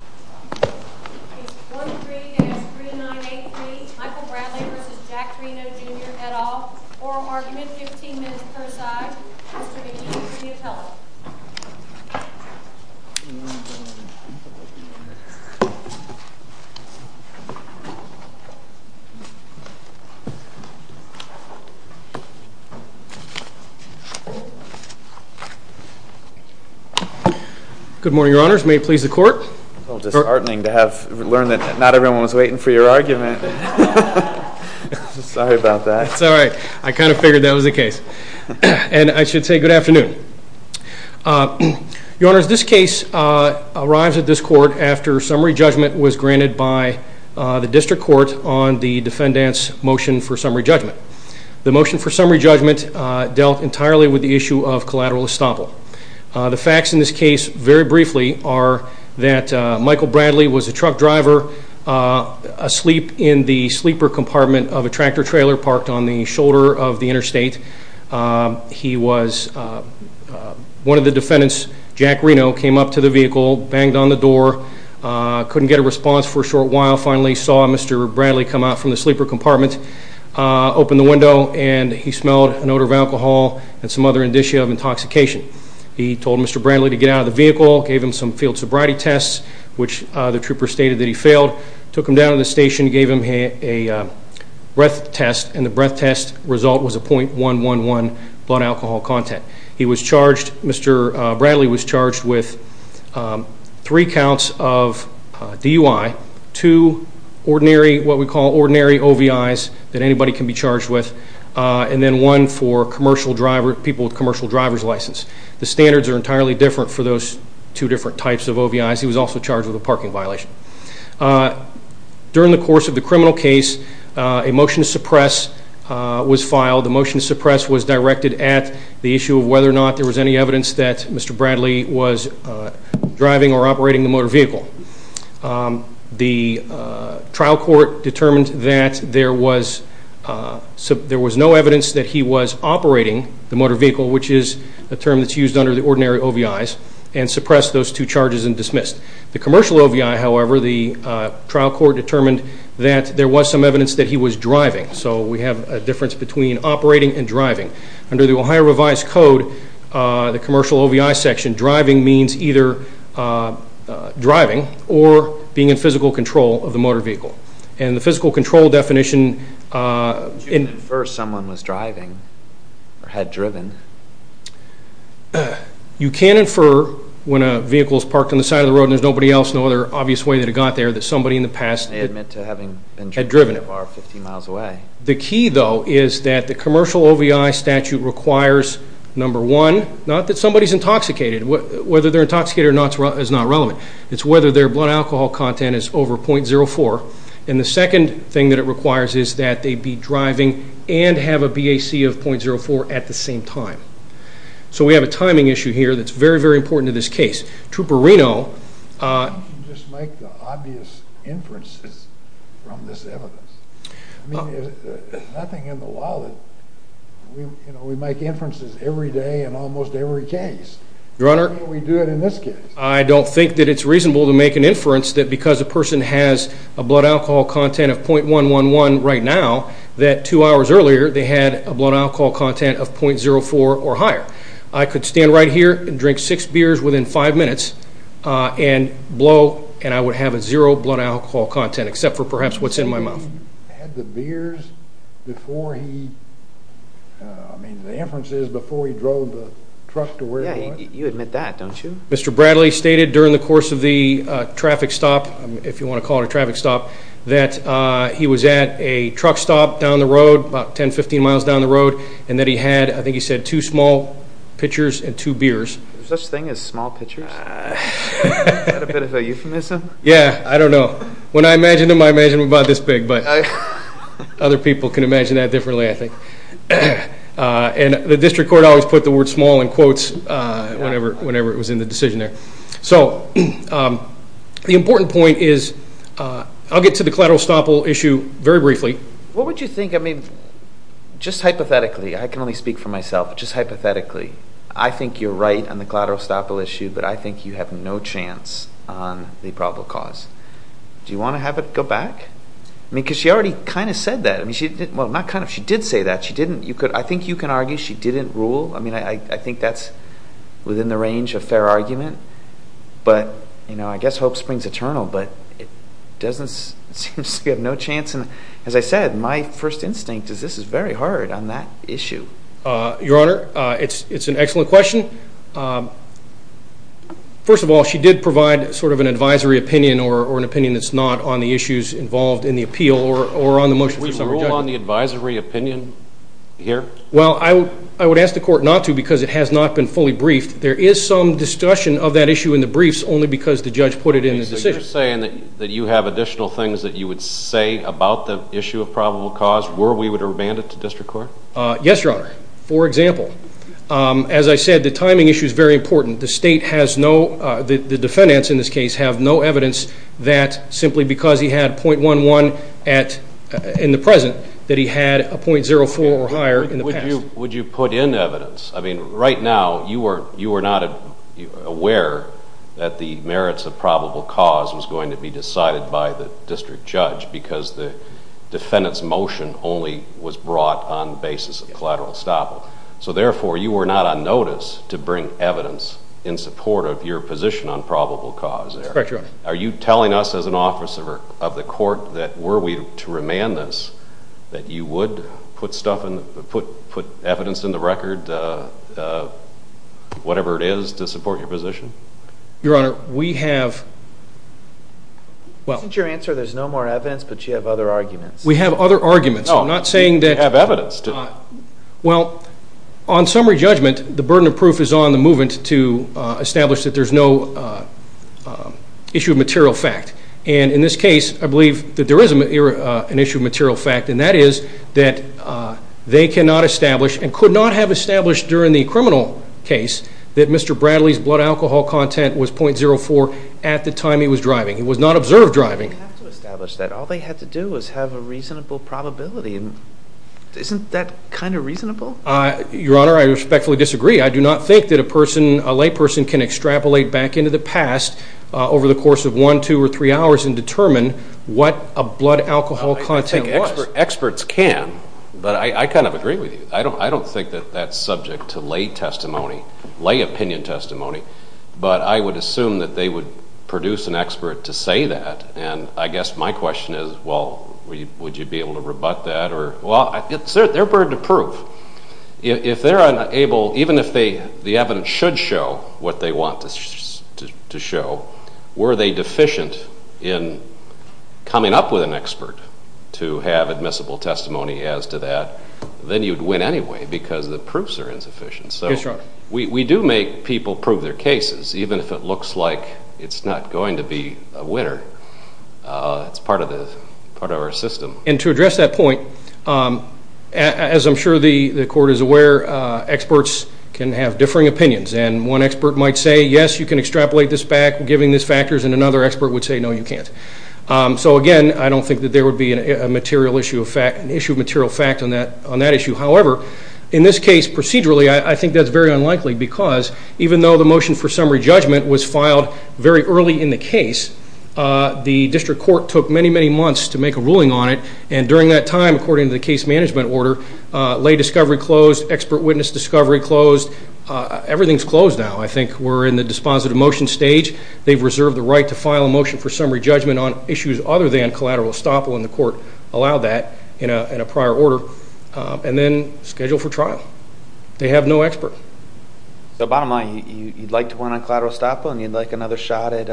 Jr., et al., Oral Argument, 15 minutes per side, Mr. McGee, Degree of Health. Good morning, Your Honors. May it please the Court. It's a little disheartening to have learned that not everyone was waiting for your argument. Sorry about that. That's all right. I kind of figured that was the case. And I should say good afternoon. Your Honors, this case arrives at this Court after summary judgment was granted by the District Court on the defendant's motion for summary judgment. The motion for summary judgment dealt entirely with the issue of collateral estoppel. The facts in this case, very briefly, are that Michael Bradley was a truck driver asleep in the sleeper compartment of a tractor-trailer parked on the shoulder of the interstate. He was – one of the defendants, Jack Reno, came up to the vehicle, banged on the door, couldn't get a response for a short while, finally saw Mr. Bradley come out from the sleeper compartment, opened the window, and he smelled an odor of alcohol and some other indicia of intoxication. He told Mr. Bradley to get out of the vehicle, gave him some field sobriety tests, which the trooper stated that he failed, took him down to the station, gave him a breath test, and the breath test result was a .111 blood alcohol content. He was charged – Mr. Bradley was charged with three counts of DUI, two ordinary – what we call ordinary OVIs that anybody can be charged with, and then one for commercial driver – people with commercial driver's license. The standards are entirely different for those two different types of OVIs. He was also charged with a parking violation. During the course of the criminal case, a motion to suppress was filed. The motion to suppress was directed at the issue of whether or not there was any evidence that Mr. Bradley was driving or operating the motor vehicle. The trial court determined that there was – there was no evidence that he was operating the motor vehicle, which is a term that's used under the ordinary OVIs, and suppressed those two charges and dismissed. The commercial OVI, however, the trial court determined that there was some evidence that he was driving, so we have a difference between operating and driving. Under the Ohio revised code, the commercial OVI section, driving means either driving or being in physical control of the motor vehicle, and the physical control definition – Could you infer someone was driving or had driven? You can infer when a vehicle is parked on the side of the road and there's nobody else, no other obvious way that it got there, that somebody in the past – They admit to having been driving at 50 miles away. The key, though, is that the commercial OVI statute requires, number one, not that somebody's intoxicated. Whether they're intoxicated or not is not relevant. It's whether their blood alcohol content is over .04, and the second thing that it So we have a timing issue here that's very, very important in this case. Trooper Reno – You just make the obvious inferences from this evidence. I mean, there's nothing in the wallet, you know, we make inferences every day in almost every case. Your Honor – I mean, we do it in this case. I don't think that it's reasonable to make an inference that because a person has a blood alcohol content of .111 right now, that two hours earlier they had a blood alcohol content of .04 or higher. I could stand right here and drink six beers within five minutes and blow, and I would have a zero blood alcohol content, except for perhaps what's in my mouth. You're saying that he had the beers before he – I mean, the inference is before he drove the truck to where he was. You admit that, don't you? Mr. Bradley stated during the course of the traffic stop, if you want to call it a traffic stop, that he was at a truck stop down the road, about 10, 15 miles down the road, and that he had, I think he said, two small pitchers and two beers. There's such a thing as small pitchers? Is that a bit of a euphemism? Yeah. I don't know. When I imagined him, I imagined him about this big, but other people can imagine that differently I think. And the district court always put the word small in quotes whenever it was in the decision there. So, the important point is – I'll get to the collateral estoppel issue very briefly. What would you think – I mean, just hypothetically, I can only speak for myself, but just hypothetically, I think you're right on the collateral estoppel issue, but I think you have no chance on the probable cause. Do you want to have it go back? I mean, because she already kind of said that. I mean, she didn't – well, not kind of. She did say that. She didn't – you could – I think you can argue she didn't rule. I mean, I think that's within the range of fair argument, but, you know, I guess hope springs eternal. But it doesn't – it seems you have no chance, and as I said, my first instinct is this is very hard on that issue. Your Honor, it's an excellent question. First of all, she did provide sort of an advisory opinion or an opinion that's not on the issues involved in the appeal or on the motion. Would you rule on the advisory opinion here? Well, I would ask the court not to because it has not been fully briefed. There is some discussion of that issue in the briefs only because the judge put it in the decision. So you're saying that you have additional things that you would say about the issue of probable cause were we were to remand it to district court? Yes, Your Honor. For example, as I said, the timing issue is very important. The state has no – the defendants in this case have no evidence that simply because he had .11 in the present that he had a .04 or higher in the past. Would you put in evidence? I mean, right now, you were not aware that the merits of probable cause was going to be decided by the district judge because the defendant's motion only was brought on basis of collateral estoppel. So therefore, you were not on notice to bring evidence in support of your position on probable cause there. That's correct, Your Honor. Are you telling us as an officer of the court that were we to remand this that you would put evidence in the record, whatever it is, to support your position? Your Honor, we have – well – Isn't your answer there's no more evidence but you have other arguments? We have other arguments. No. I'm not saying that – You have evidence to – Well, on summary judgment, the burden of proof is on the movement to establish that there's no issue of material fact. And in this case, I believe that there is an issue of material fact, and that is that they cannot establish and could not have established during the criminal case that Mr. Bradley's blood alcohol content was .04 at the time he was driving. He was not observed driving. They didn't have to establish that. All they had to do was have a reasonable probability. Isn't that kind of reasonable? Your Honor, I respectfully disagree. I do not think that a person, a layperson, can extrapolate back into the past over the hours and determine what a blood alcohol content was. Experts can, but I kind of agree with you. I don't think that that's subject to lay testimony, lay opinion testimony, but I would assume that they would produce an expert to say that, and I guess my question is, well, would you be able to rebut that or – Well, it's their burden of proof. If they're unable – even if the evidence should show what they want to show, were they deficient in coming up with an expert to have admissible testimony as to that, then you'd win anyway because the proofs are insufficient. Yes, Your Honor. We do make people prove their cases, even if it looks like it's not going to be a winner. It's part of our system. And to address that point, as I'm sure the Court is aware, experts can have differing opinions, and one expert might say, yes, you can extrapolate this back, giving these factors and another expert would say, no, you can't. So again, I don't think that there would be an issue of material fact on that issue. However, in this case, procedurally, I think that's very unlikely because even though the motion for summary judgment was filed very early in the case, the District Court took many, many months to make a ruling on it, and during that time, according to the case management order, lay discovery closed, expert witness discovery closed. Everything's closed now. I think we're in the dispositive motion stage. They've reserved the right to file a motion for summary judgment on issues other than collateral estoppel, and the Court allowed that in a prior order, and then scheduled for trial. They have no expert. So, bottom line, you'd like to win on collateral estoppel, and you'd like another shot at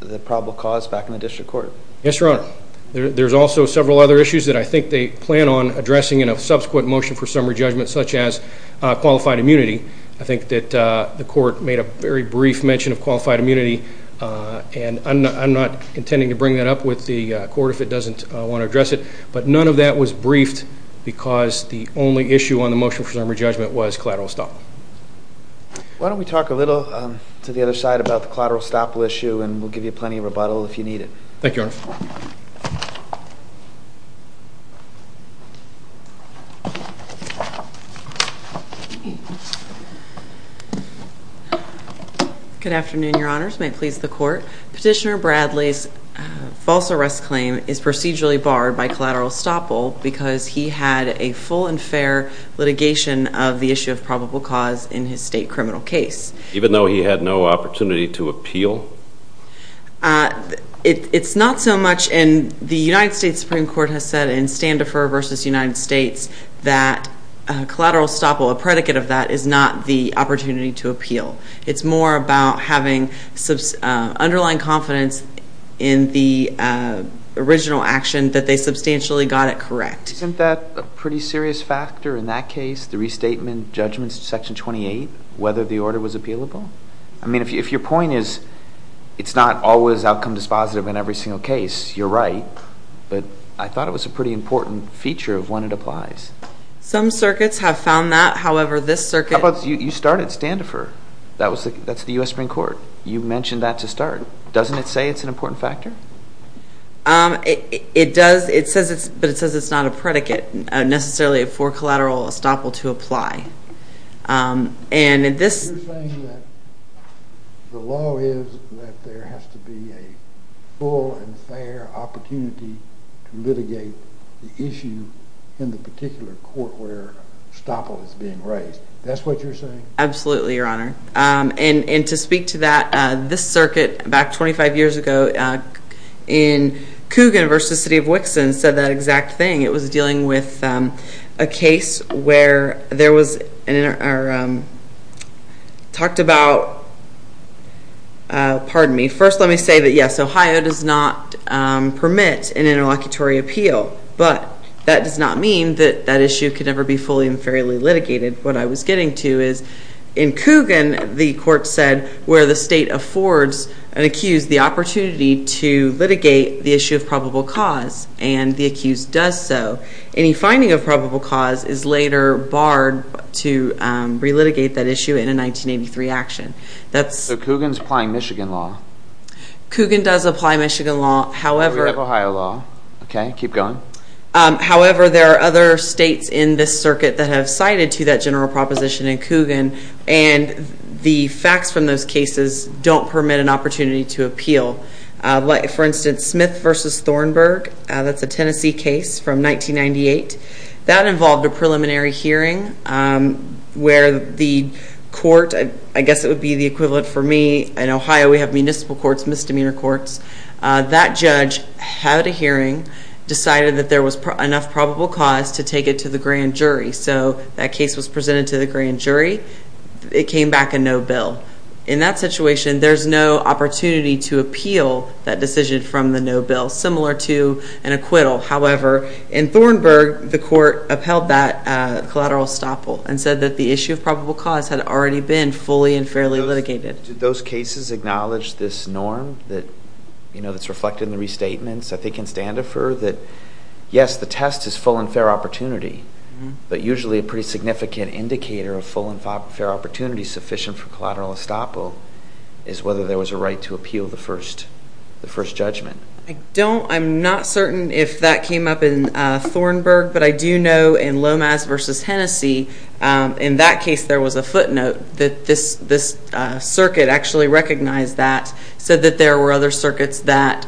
the probable cause back in the District Court? Yes, Your Honor. There's also several other issues that I think they plan on addressing in a subsequent motion for summary judgment, such as qualified immunity. I think that the Court made a very brief mention of qualified immunity, and I'm not intending to bring that up with the Court if it doesn't want to address it. But none of that was briefed because the only issue on the motion for summary judgment was collateral estoppel. Why don't we talk a little to the other side about the collateral estoppel issue, and we'll give you plenty of rebuttal if you need it. Thank you, Your Honor. Good afternoon, Your Honors. May it please the Court. Petitioner Bradley's false arrest claim is procedurally barred by collateral estoppel because he had a full and fair litigation of the issue of probable cause in his state criminal case. Even though he had no opportunity to appeal? It's not so much, and the United States Supreme Court has said in Standefer v. United States that collateral estoppel, a predicate of that, is not the opportunity to appeal. It's more about having underlying confidence in the original action that they substantially got it correct. Isn't that a pretty serious factor in that case, the restatement judgments to Section 28, whether the order was appealable? If your point is it's not always outcome dispositive in every single case, you're right, but I thought it was a pretty important feature of when it applies. Some circuits have found that, however, this circuit... You started Standefer. That's the U.S. Supreme Court. You mentioned that to start. Doesn't it say it's an important factor? It does, but it says it's not a predicate necessarily for collateral estoppel to apply. You're saying that the law is that there has to be a full and fair opportunity to litigate the issue in the particular court where estoppel is being raised. That's what you're saying? Absolutely, Your Honor. To speak to that, this circuit back 25 years ago in Coogan v. City of Wixson said that exact thing. It was dealing with a case where there was... Talked about... Pardon me. First, let me say that yes, Ohio does not permit an interlocutory appeal, but that does not mean that that issue could never be fully and fairly litigated. What I was getting to is in Coogan, the court said where the state affords an accused the right to litigate the issue of probable cause, and the accused does so. Any finding of probable cause is later barred to re-litigate that issue in a 1983 action. That's... So Coogan's applying Michigan law? Coogan does apply Michigan law, however... We have Ohio law, okay? Keep going. However, there are other states in this circuit that have cited to that general proposition For instance, Smith v. Thornburg, that's a Tennessee case from 1998. That involved a preliminary hearing where the court, I guess it would be the equivalent for me. In Ohio, we have municipal courts, misdemeanor courts. That judge had a hearing, decided that there was enough probable cause to take it to the grand jury. So that case was presented to the grand jury. It came back a no bill. In that situation, there's no opportunity to appeal that decision from the no bill. Similar to an acquittal, however, in Thornburg, the court upheld that collateral estoppel and said that the issue of probable cause had already been fully and fairly litigated. Do those cases acknowledge this norm that's reflected in the restatements, I think in Standifer, that yes, the test is full and fair opportunity, but usually a pretty significant indicator of full and fair opportunity sufficient for collateral estoppel is whether there was a right to appeal the first judgment. I'm not certain if that came up in Thornburg, but I do know in Lomas v. Tennessee, in that case there was a footnote that this circuit actually recognized that, said that there were other circuits that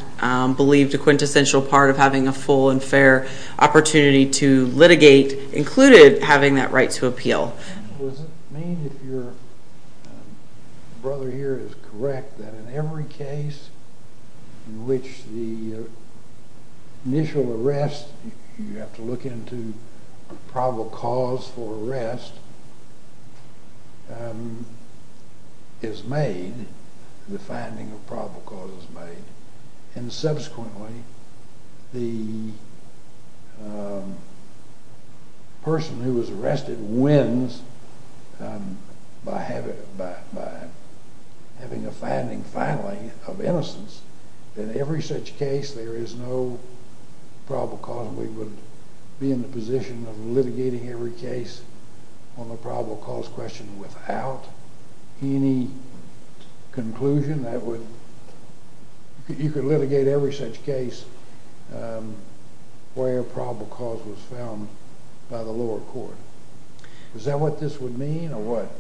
believed a quintessential part of having a full and fair opportunity to litigate included having that right to appeal. Does it mean if your brother here is correct that in every case in which the initial arrest, you have to look into probable cause for arrest, is made, the finding of probable cause is that the person who was arrested wins by having a finding, finally, of innocence. In every such case there is no probable cause and we would be in the position of litigating every case on the probable cause question without any conclusion that would, you could say, where probable cause was found by the lower court. Is that what this would mean, or what?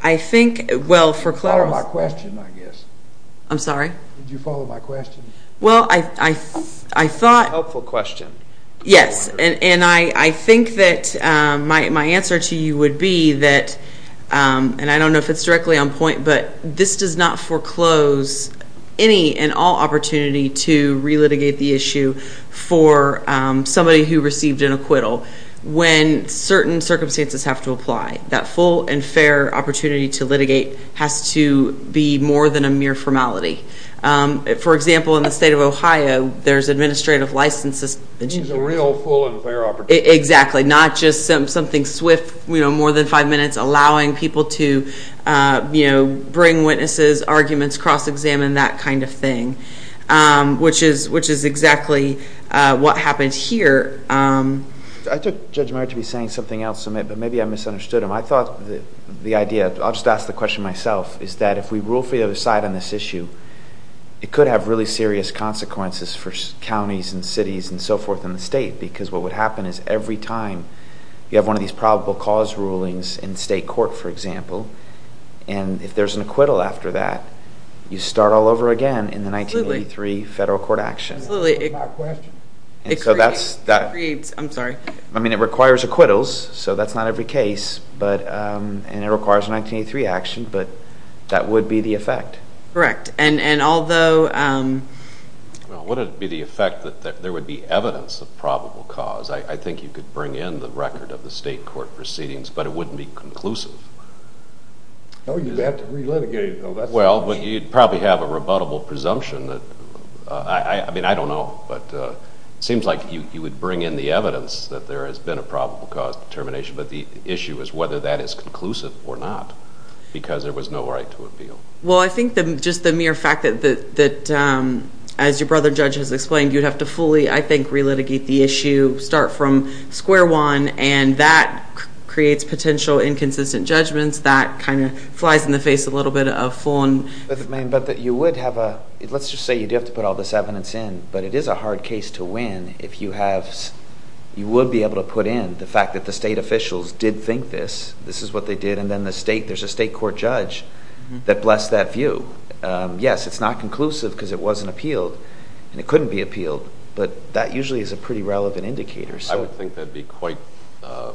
I think, well, for clarity. You followed my question, I guess. I'm sorry? Did you follow my question? Well, I thought. It's a helpful question. Yes, and I think that my answer to you would be that, and I don't know if it's directly on point, but this does not foreclose any and all opportunity to re-litigate the issue for somebody who received an acquittal when certain circumstances have to apply. That full and fair opportunity to litigate has to be more than a mere formality. For example, in the state of Ohio, there's administrative licenses. It means a real full and fair opportunity. Exactly. Not just something swift, more than five minutes, allowing people to bring witnesses, arguments, cross-examine, that kind of thing, which is exactly what happened here. I took Judge Meyer to be saying something else, but maybe I misunderstood him. I thought the idea, I'll just ask the question myself, is that if we rule for the other side on this issue, it could have really serious consequences for counties and cities and so on. You have one of these probable cause rulings in state court, for example, and if there's an acquittal after that, you start all over again in the 1983 federal court action. Absolutely. That's my question. I'm sorry. I mean, it requires acquittals, so that's not every case, and it requires a 1983 action, but that would be the effect. Correct. And although... Well, would it be the effect that there would be evidence of probable cause? I think you could bring in the record of the state court proceedings, but it wouldn't be conclusive. Oh, you'd have to relitigate it, though. Well, but you'd probably have a rebuttable presumption that, I mean, I don't know, but it seems like you would bring in the evidence that there has been a probable cause determination, but the issue is whether that is conclusive or not, because there was no right to appeal. Well, I think just the mere fact that, as your brother judge has explained, you'd have to fully, I think, relitigate the issue, start from square one, and that creates potential inconsistent judgments. That kind of flies in the face a little bit of full-on... But you would have a... Let's just say you do have to put all this evidence in, but it is a hard case to win if you have... You would be able to put in the fact that the state officials did think this. This is what they did, and then there's a state court judge that blessed that view. Yes, it's not conclusive, because it wasn't appealed, and it couldn't be appealed, but that usually is a pretty relevant indicator, so... I would think that'd be quite a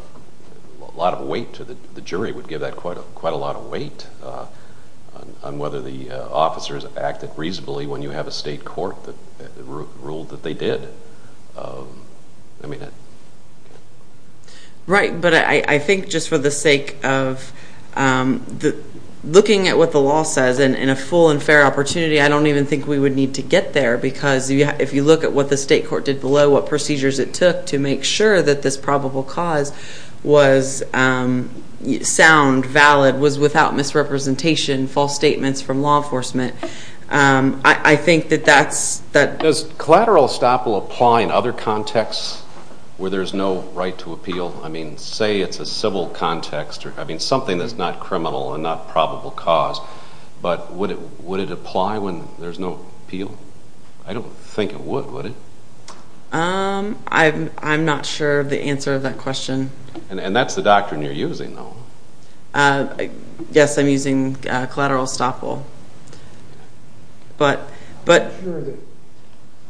lot of weight to the... The jury would give that quite a lot of weight on whether the officers acted reasonably when you have a state court that ruled that they did. I mean, I... Right. But I think just for the sake of looking at what the law says in a full and fair opportunity, I don't even think we would need to get there, because if you look at what the state court did below, what procedures it took to make sure that this probable cause was sound, valid, was without misrepresentation, false statements from law enforcement, I think that that's... Does collateral estoppel apply in other contexts where there's no right to appeal? I mean, say it's a civil context, or, I mean, something that's not criminal and not probable cause, but would it apply when there's no appeal? I don't think it would, would it? I'm not sure of the answer to that question. And that's the doctrine you're using, though. Yes, I'm using collateral estoppel. But... I don't think that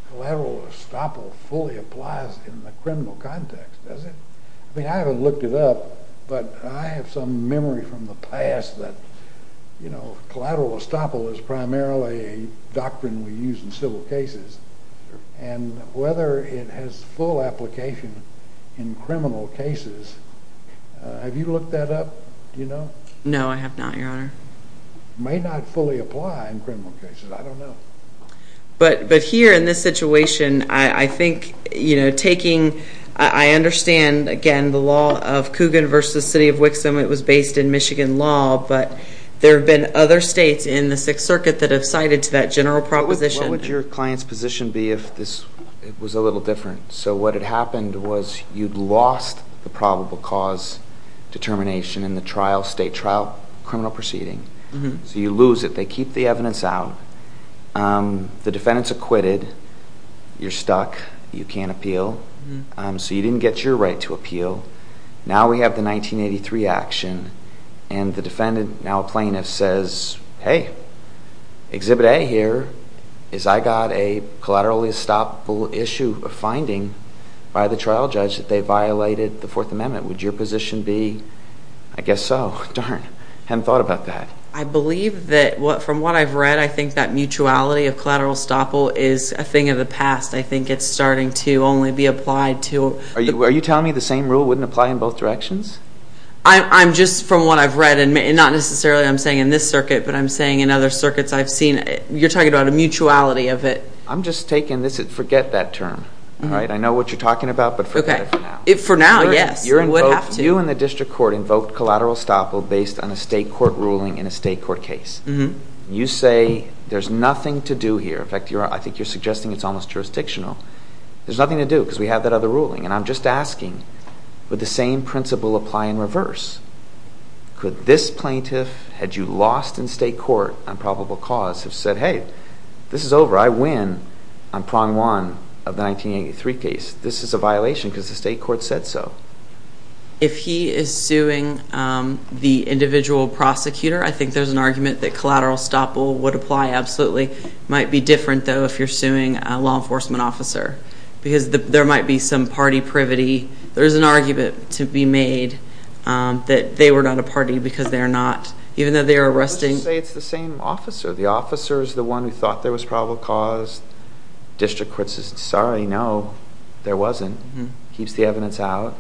collateral estoppel fully applies in the criminal context, does it? I mean, I haven't looked it up, but I have some memory from the past that, you know, collateral estoppel is primarily a doctrine we use in civil cases, and whether it has full application in criminal cases, have you looked that up? Do you know? No, I have not, Your Honor. May not fully apply in criminal cases, I don't know. But here, in this situation, I think, you know, taking, I understand, again, the law of Coogan v. City of Wixom, it was based in Michigan law, but there have been other states in the Sixth Circuit that have cited to that general proposition. What would your client's position be if this was a little different? So what had happened was you'd lost the probable cause determination in the trial, state trial criminal proceeding. So you lose it. They keep the evidence out. The defendant's acquitted. You're stuck. You can't appeal. So you didn't get your right to appeal. Now we have the 1983 action, and the defendant, now a plaintiff, says, hey, Exhibit A here is I got a collateral estoppel issue of finding by the trial judge that they violated the Fourth Amendment. Would your position be, I guess so, darn, hadn't thought about that. I believe that, from what I've read, I think that mutuality of collateral estoppel is a thing of the past. I think it's starting to only be applied to Are you telling me the same rule wouldn't apply in both directions? I'm just, from what I've read, and not necessarily I'm saying in this circuit, but I'm saying in other circuits I've seen, you're talking about a mutuality of it. I'm just taking this, forget that term, all right? I know what you're talking about, but forget it for now. For now, yes. I would have to. So you and the district court invoked collateral estoppel based on a state court ruling in a state court case. You say there's nothing to do here. In fact, I think you're suggesting it's almost jurisdictional. There's nothing to do because we have that other ruling. And I'm just asking, would the same principle apply in reverse? Could this plaintiff, had you lost in state court on probable cause, have said, hey, this is over. I win on prong one of the 1983 case. This is a violation because the state court said so. If he is suing the individual prosecutor, I think there's an argument that collateral estoppel would apply absolutely. Might be different, though, if you're suing a law enforcement officer because there might be some party privity. There's an argument to be made that they were not a party because they're not, even though they're arresting. I would just say it's the same officer. The officer is the one who thought there was probable cause. District court says, sorry, no, there wasn't. Keeps the evidence out.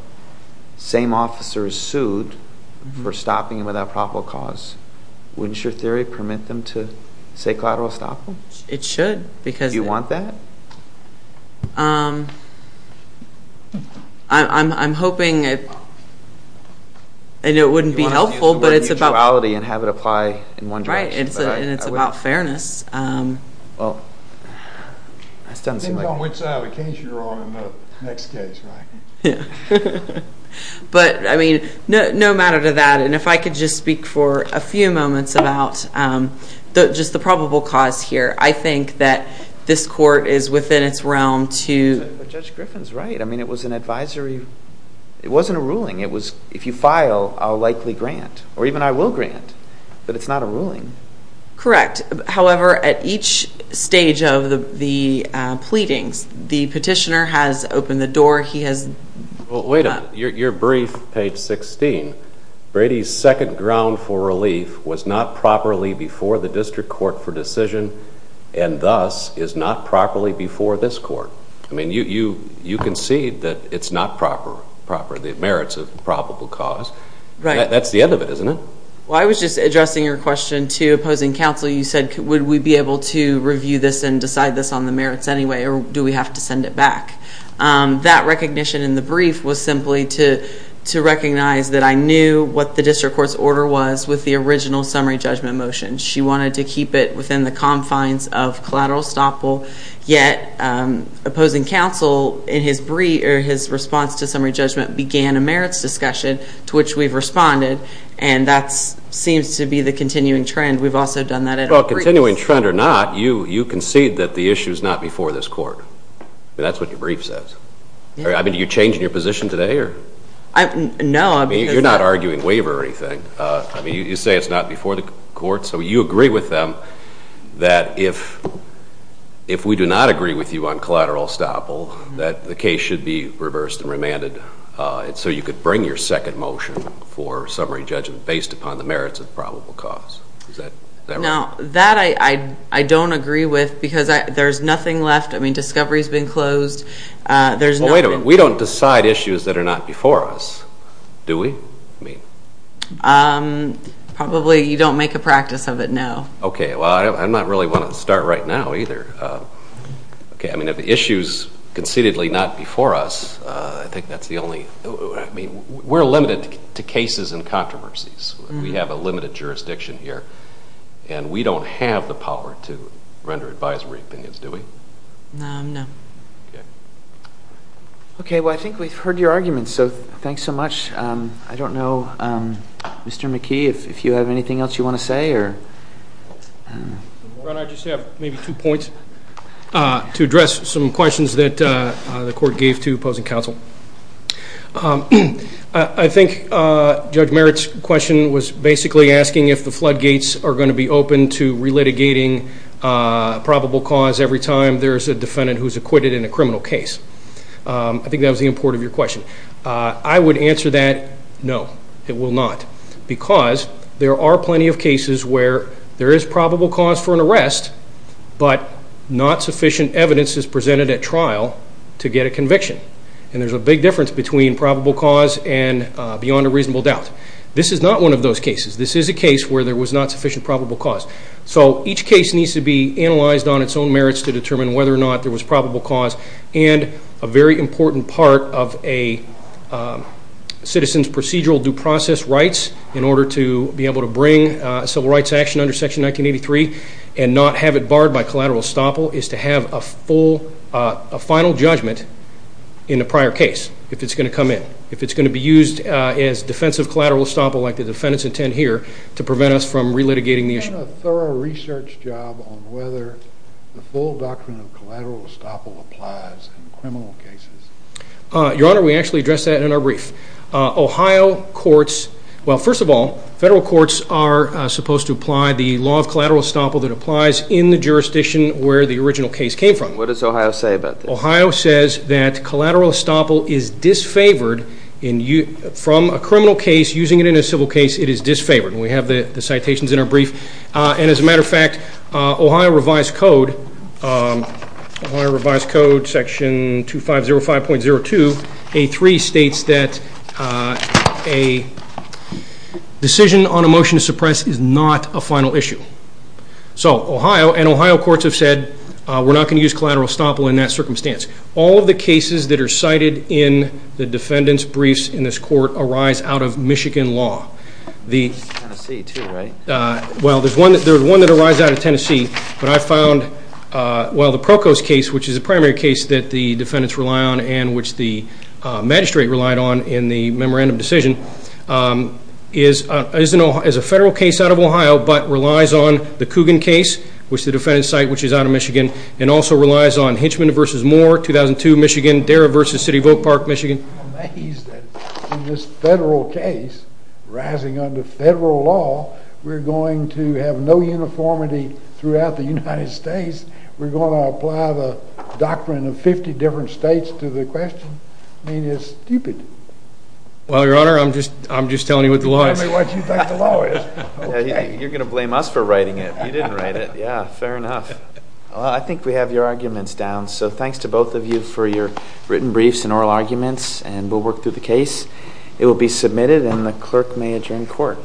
Same officer is sued for stopping him without probable cause. Wouldn't your theory permit them to say collateral estoppel? It should. Do you want that? I'm hoping it wouldn't be helpful, but it's about fairness. It depends on which side of the case you're on in the next case, right? No matter to that. If I could just speak for a few moments about just the probable cause here. I think that this court is within its realm to... Judge Griffin's right. It was an advisory... It wasn't a ruling. If you file, I'll likely grant, or even I will grant that it's not a ruling. Correct. However, at each stage of the pleadings, the petitioner has opened the door. He has... Wait a minute. Your brief, page 16, Brady's second ground for relief was not properly before the district court for decision, and thus is not properly before this court. I mean, you concede that it's not proper, the merits of probable cause. That's the end of it, isn't it? Well, I was just addressing your question to opposing counsel. You said, would we be able to review this and decide this on the merits anyway, or do we have to send it back? That recognition in the brief was simply to recognize that I knew what the district court's order was with the original summary judgment motion. She wanted to keep it within the confines of collateral estoppel, yet opposing counsel in his response to summary judgment began a merits discussion to which we've responded, and that seems to be the continuing trend. We've also done that in our briefs. Well, continuing trend or not, you concede that the issue is not before this court. That's what your brief says. I mean, are you changing your position today, or... No, I mean... I mean, you're not arguing waiver or anything. I mean, you say it's not before the court, so you agree with them that if we do not agree with you on collateral estoppel, that the case should be reversed and remanded so you could bring your second motion for summary judgment based upon the merits of probable cause. Is that right? No. That I don't agree with because there's nothing left. I mean, discovery's been closed. There's nothing... Well, wait a minute. We don't decide issues that are not before us, do we? I mean... Probably, you don't make a practice of it, no. Okay. Well, I'm not really wanting to start right now either. Okay. I mean, if the issue's concededly not before us, I think that's the only... I mean, we're limited to cases and controversies. We have a limited jurisdiction here, and we don't have the power to render advisory opinions, do we? No. Okay. Okay. Well, I think we've heard your arguments, so thanks so much. I don't know, Mr. McKee, if you have anything else you want to say or... Ron, I just have maybe two points to address some questions that the court gave to opposing counsel. I think Judge Merritt's question was basically asking if the floodgates are going to be open to relitigating probable cause every time there's a defendant who's acquitted in a criminal case. I think that was the import of your question. I would answer that, no, it will not, because there are plenty of cases where there is probable cause for an arrest, but not sufficient evidence is presented at trial to get a conviction. And there's a big difference between probable cause and beyond a reasonable doubt. This is not one of those cases. This is a case where there was not sufficient probable cause. So each case needs to be analyzed on its own merits to determine whether or not there was of a citizen's procedural due process rights in order to be able to bring civil rights action under Section 1983 and not have it barred by collateral estoppel is to have a full, a final judgment in the prior case if it's going to come in, if it's going to be used as defensive collateral estoppel like the defendants intend here to prevent us from relitigating the issue. Is there even a thorough research job on whether the full doctrine of collateral estoppel applies in criminal cases? Your Honor, we actually addressed that in our brief. Ohio courts, well, first of all, federal courts are supposed to apply the law of collateral estoppel that applies in the jurisdiction where the original case came from. What does Ohio say about this? Ohio says that collateral estoppel is disfavored from a criminal case using it in a civil case, it is disfavored. We have the citations in our brief and as a matter of fact, Ohio Revised Code, Ohio Revised Code Section 2505.02.83 states that a decision on a motion to suppress is not a final issue. So Ohio and Ohio courts have said we're not going to use collateral estoppel in that circumstance. All of the cases that are cited in the defendant's briefs in this court arise out of Michigan law. Tennessee too, right? Well, there's one that arises out of Tennessee, but I found, well, the Prokos case, which is a primary case that the defendants rely on and which the magistrate relied on in the memorandum decision, is a federal case out of Ohio, but relies on the Coogan case, which the defendants cite, which is out of Michigan, and also relies on Hinchman v. Moore, 2002, Michigan, Darragh v. City Vote Park, Michigan. I'm amazed that in this federal case, rising under federal law, we're going to have no uniformity throughout the United States. We're going to apply the doctrine of 50 different states to the question? I mean, it's stupid. Well, Your Honor, I'm just telling you what the law is. Tell me what you think the law is. You're going to blame us for writing it. You didn't write it. Yeah, fair enough. Well, I think we have your arguments down, so thanks to both of you for your written briefs and oral arguments, and we'll work through the case. It will be submitted, and the clerk may adjourn court.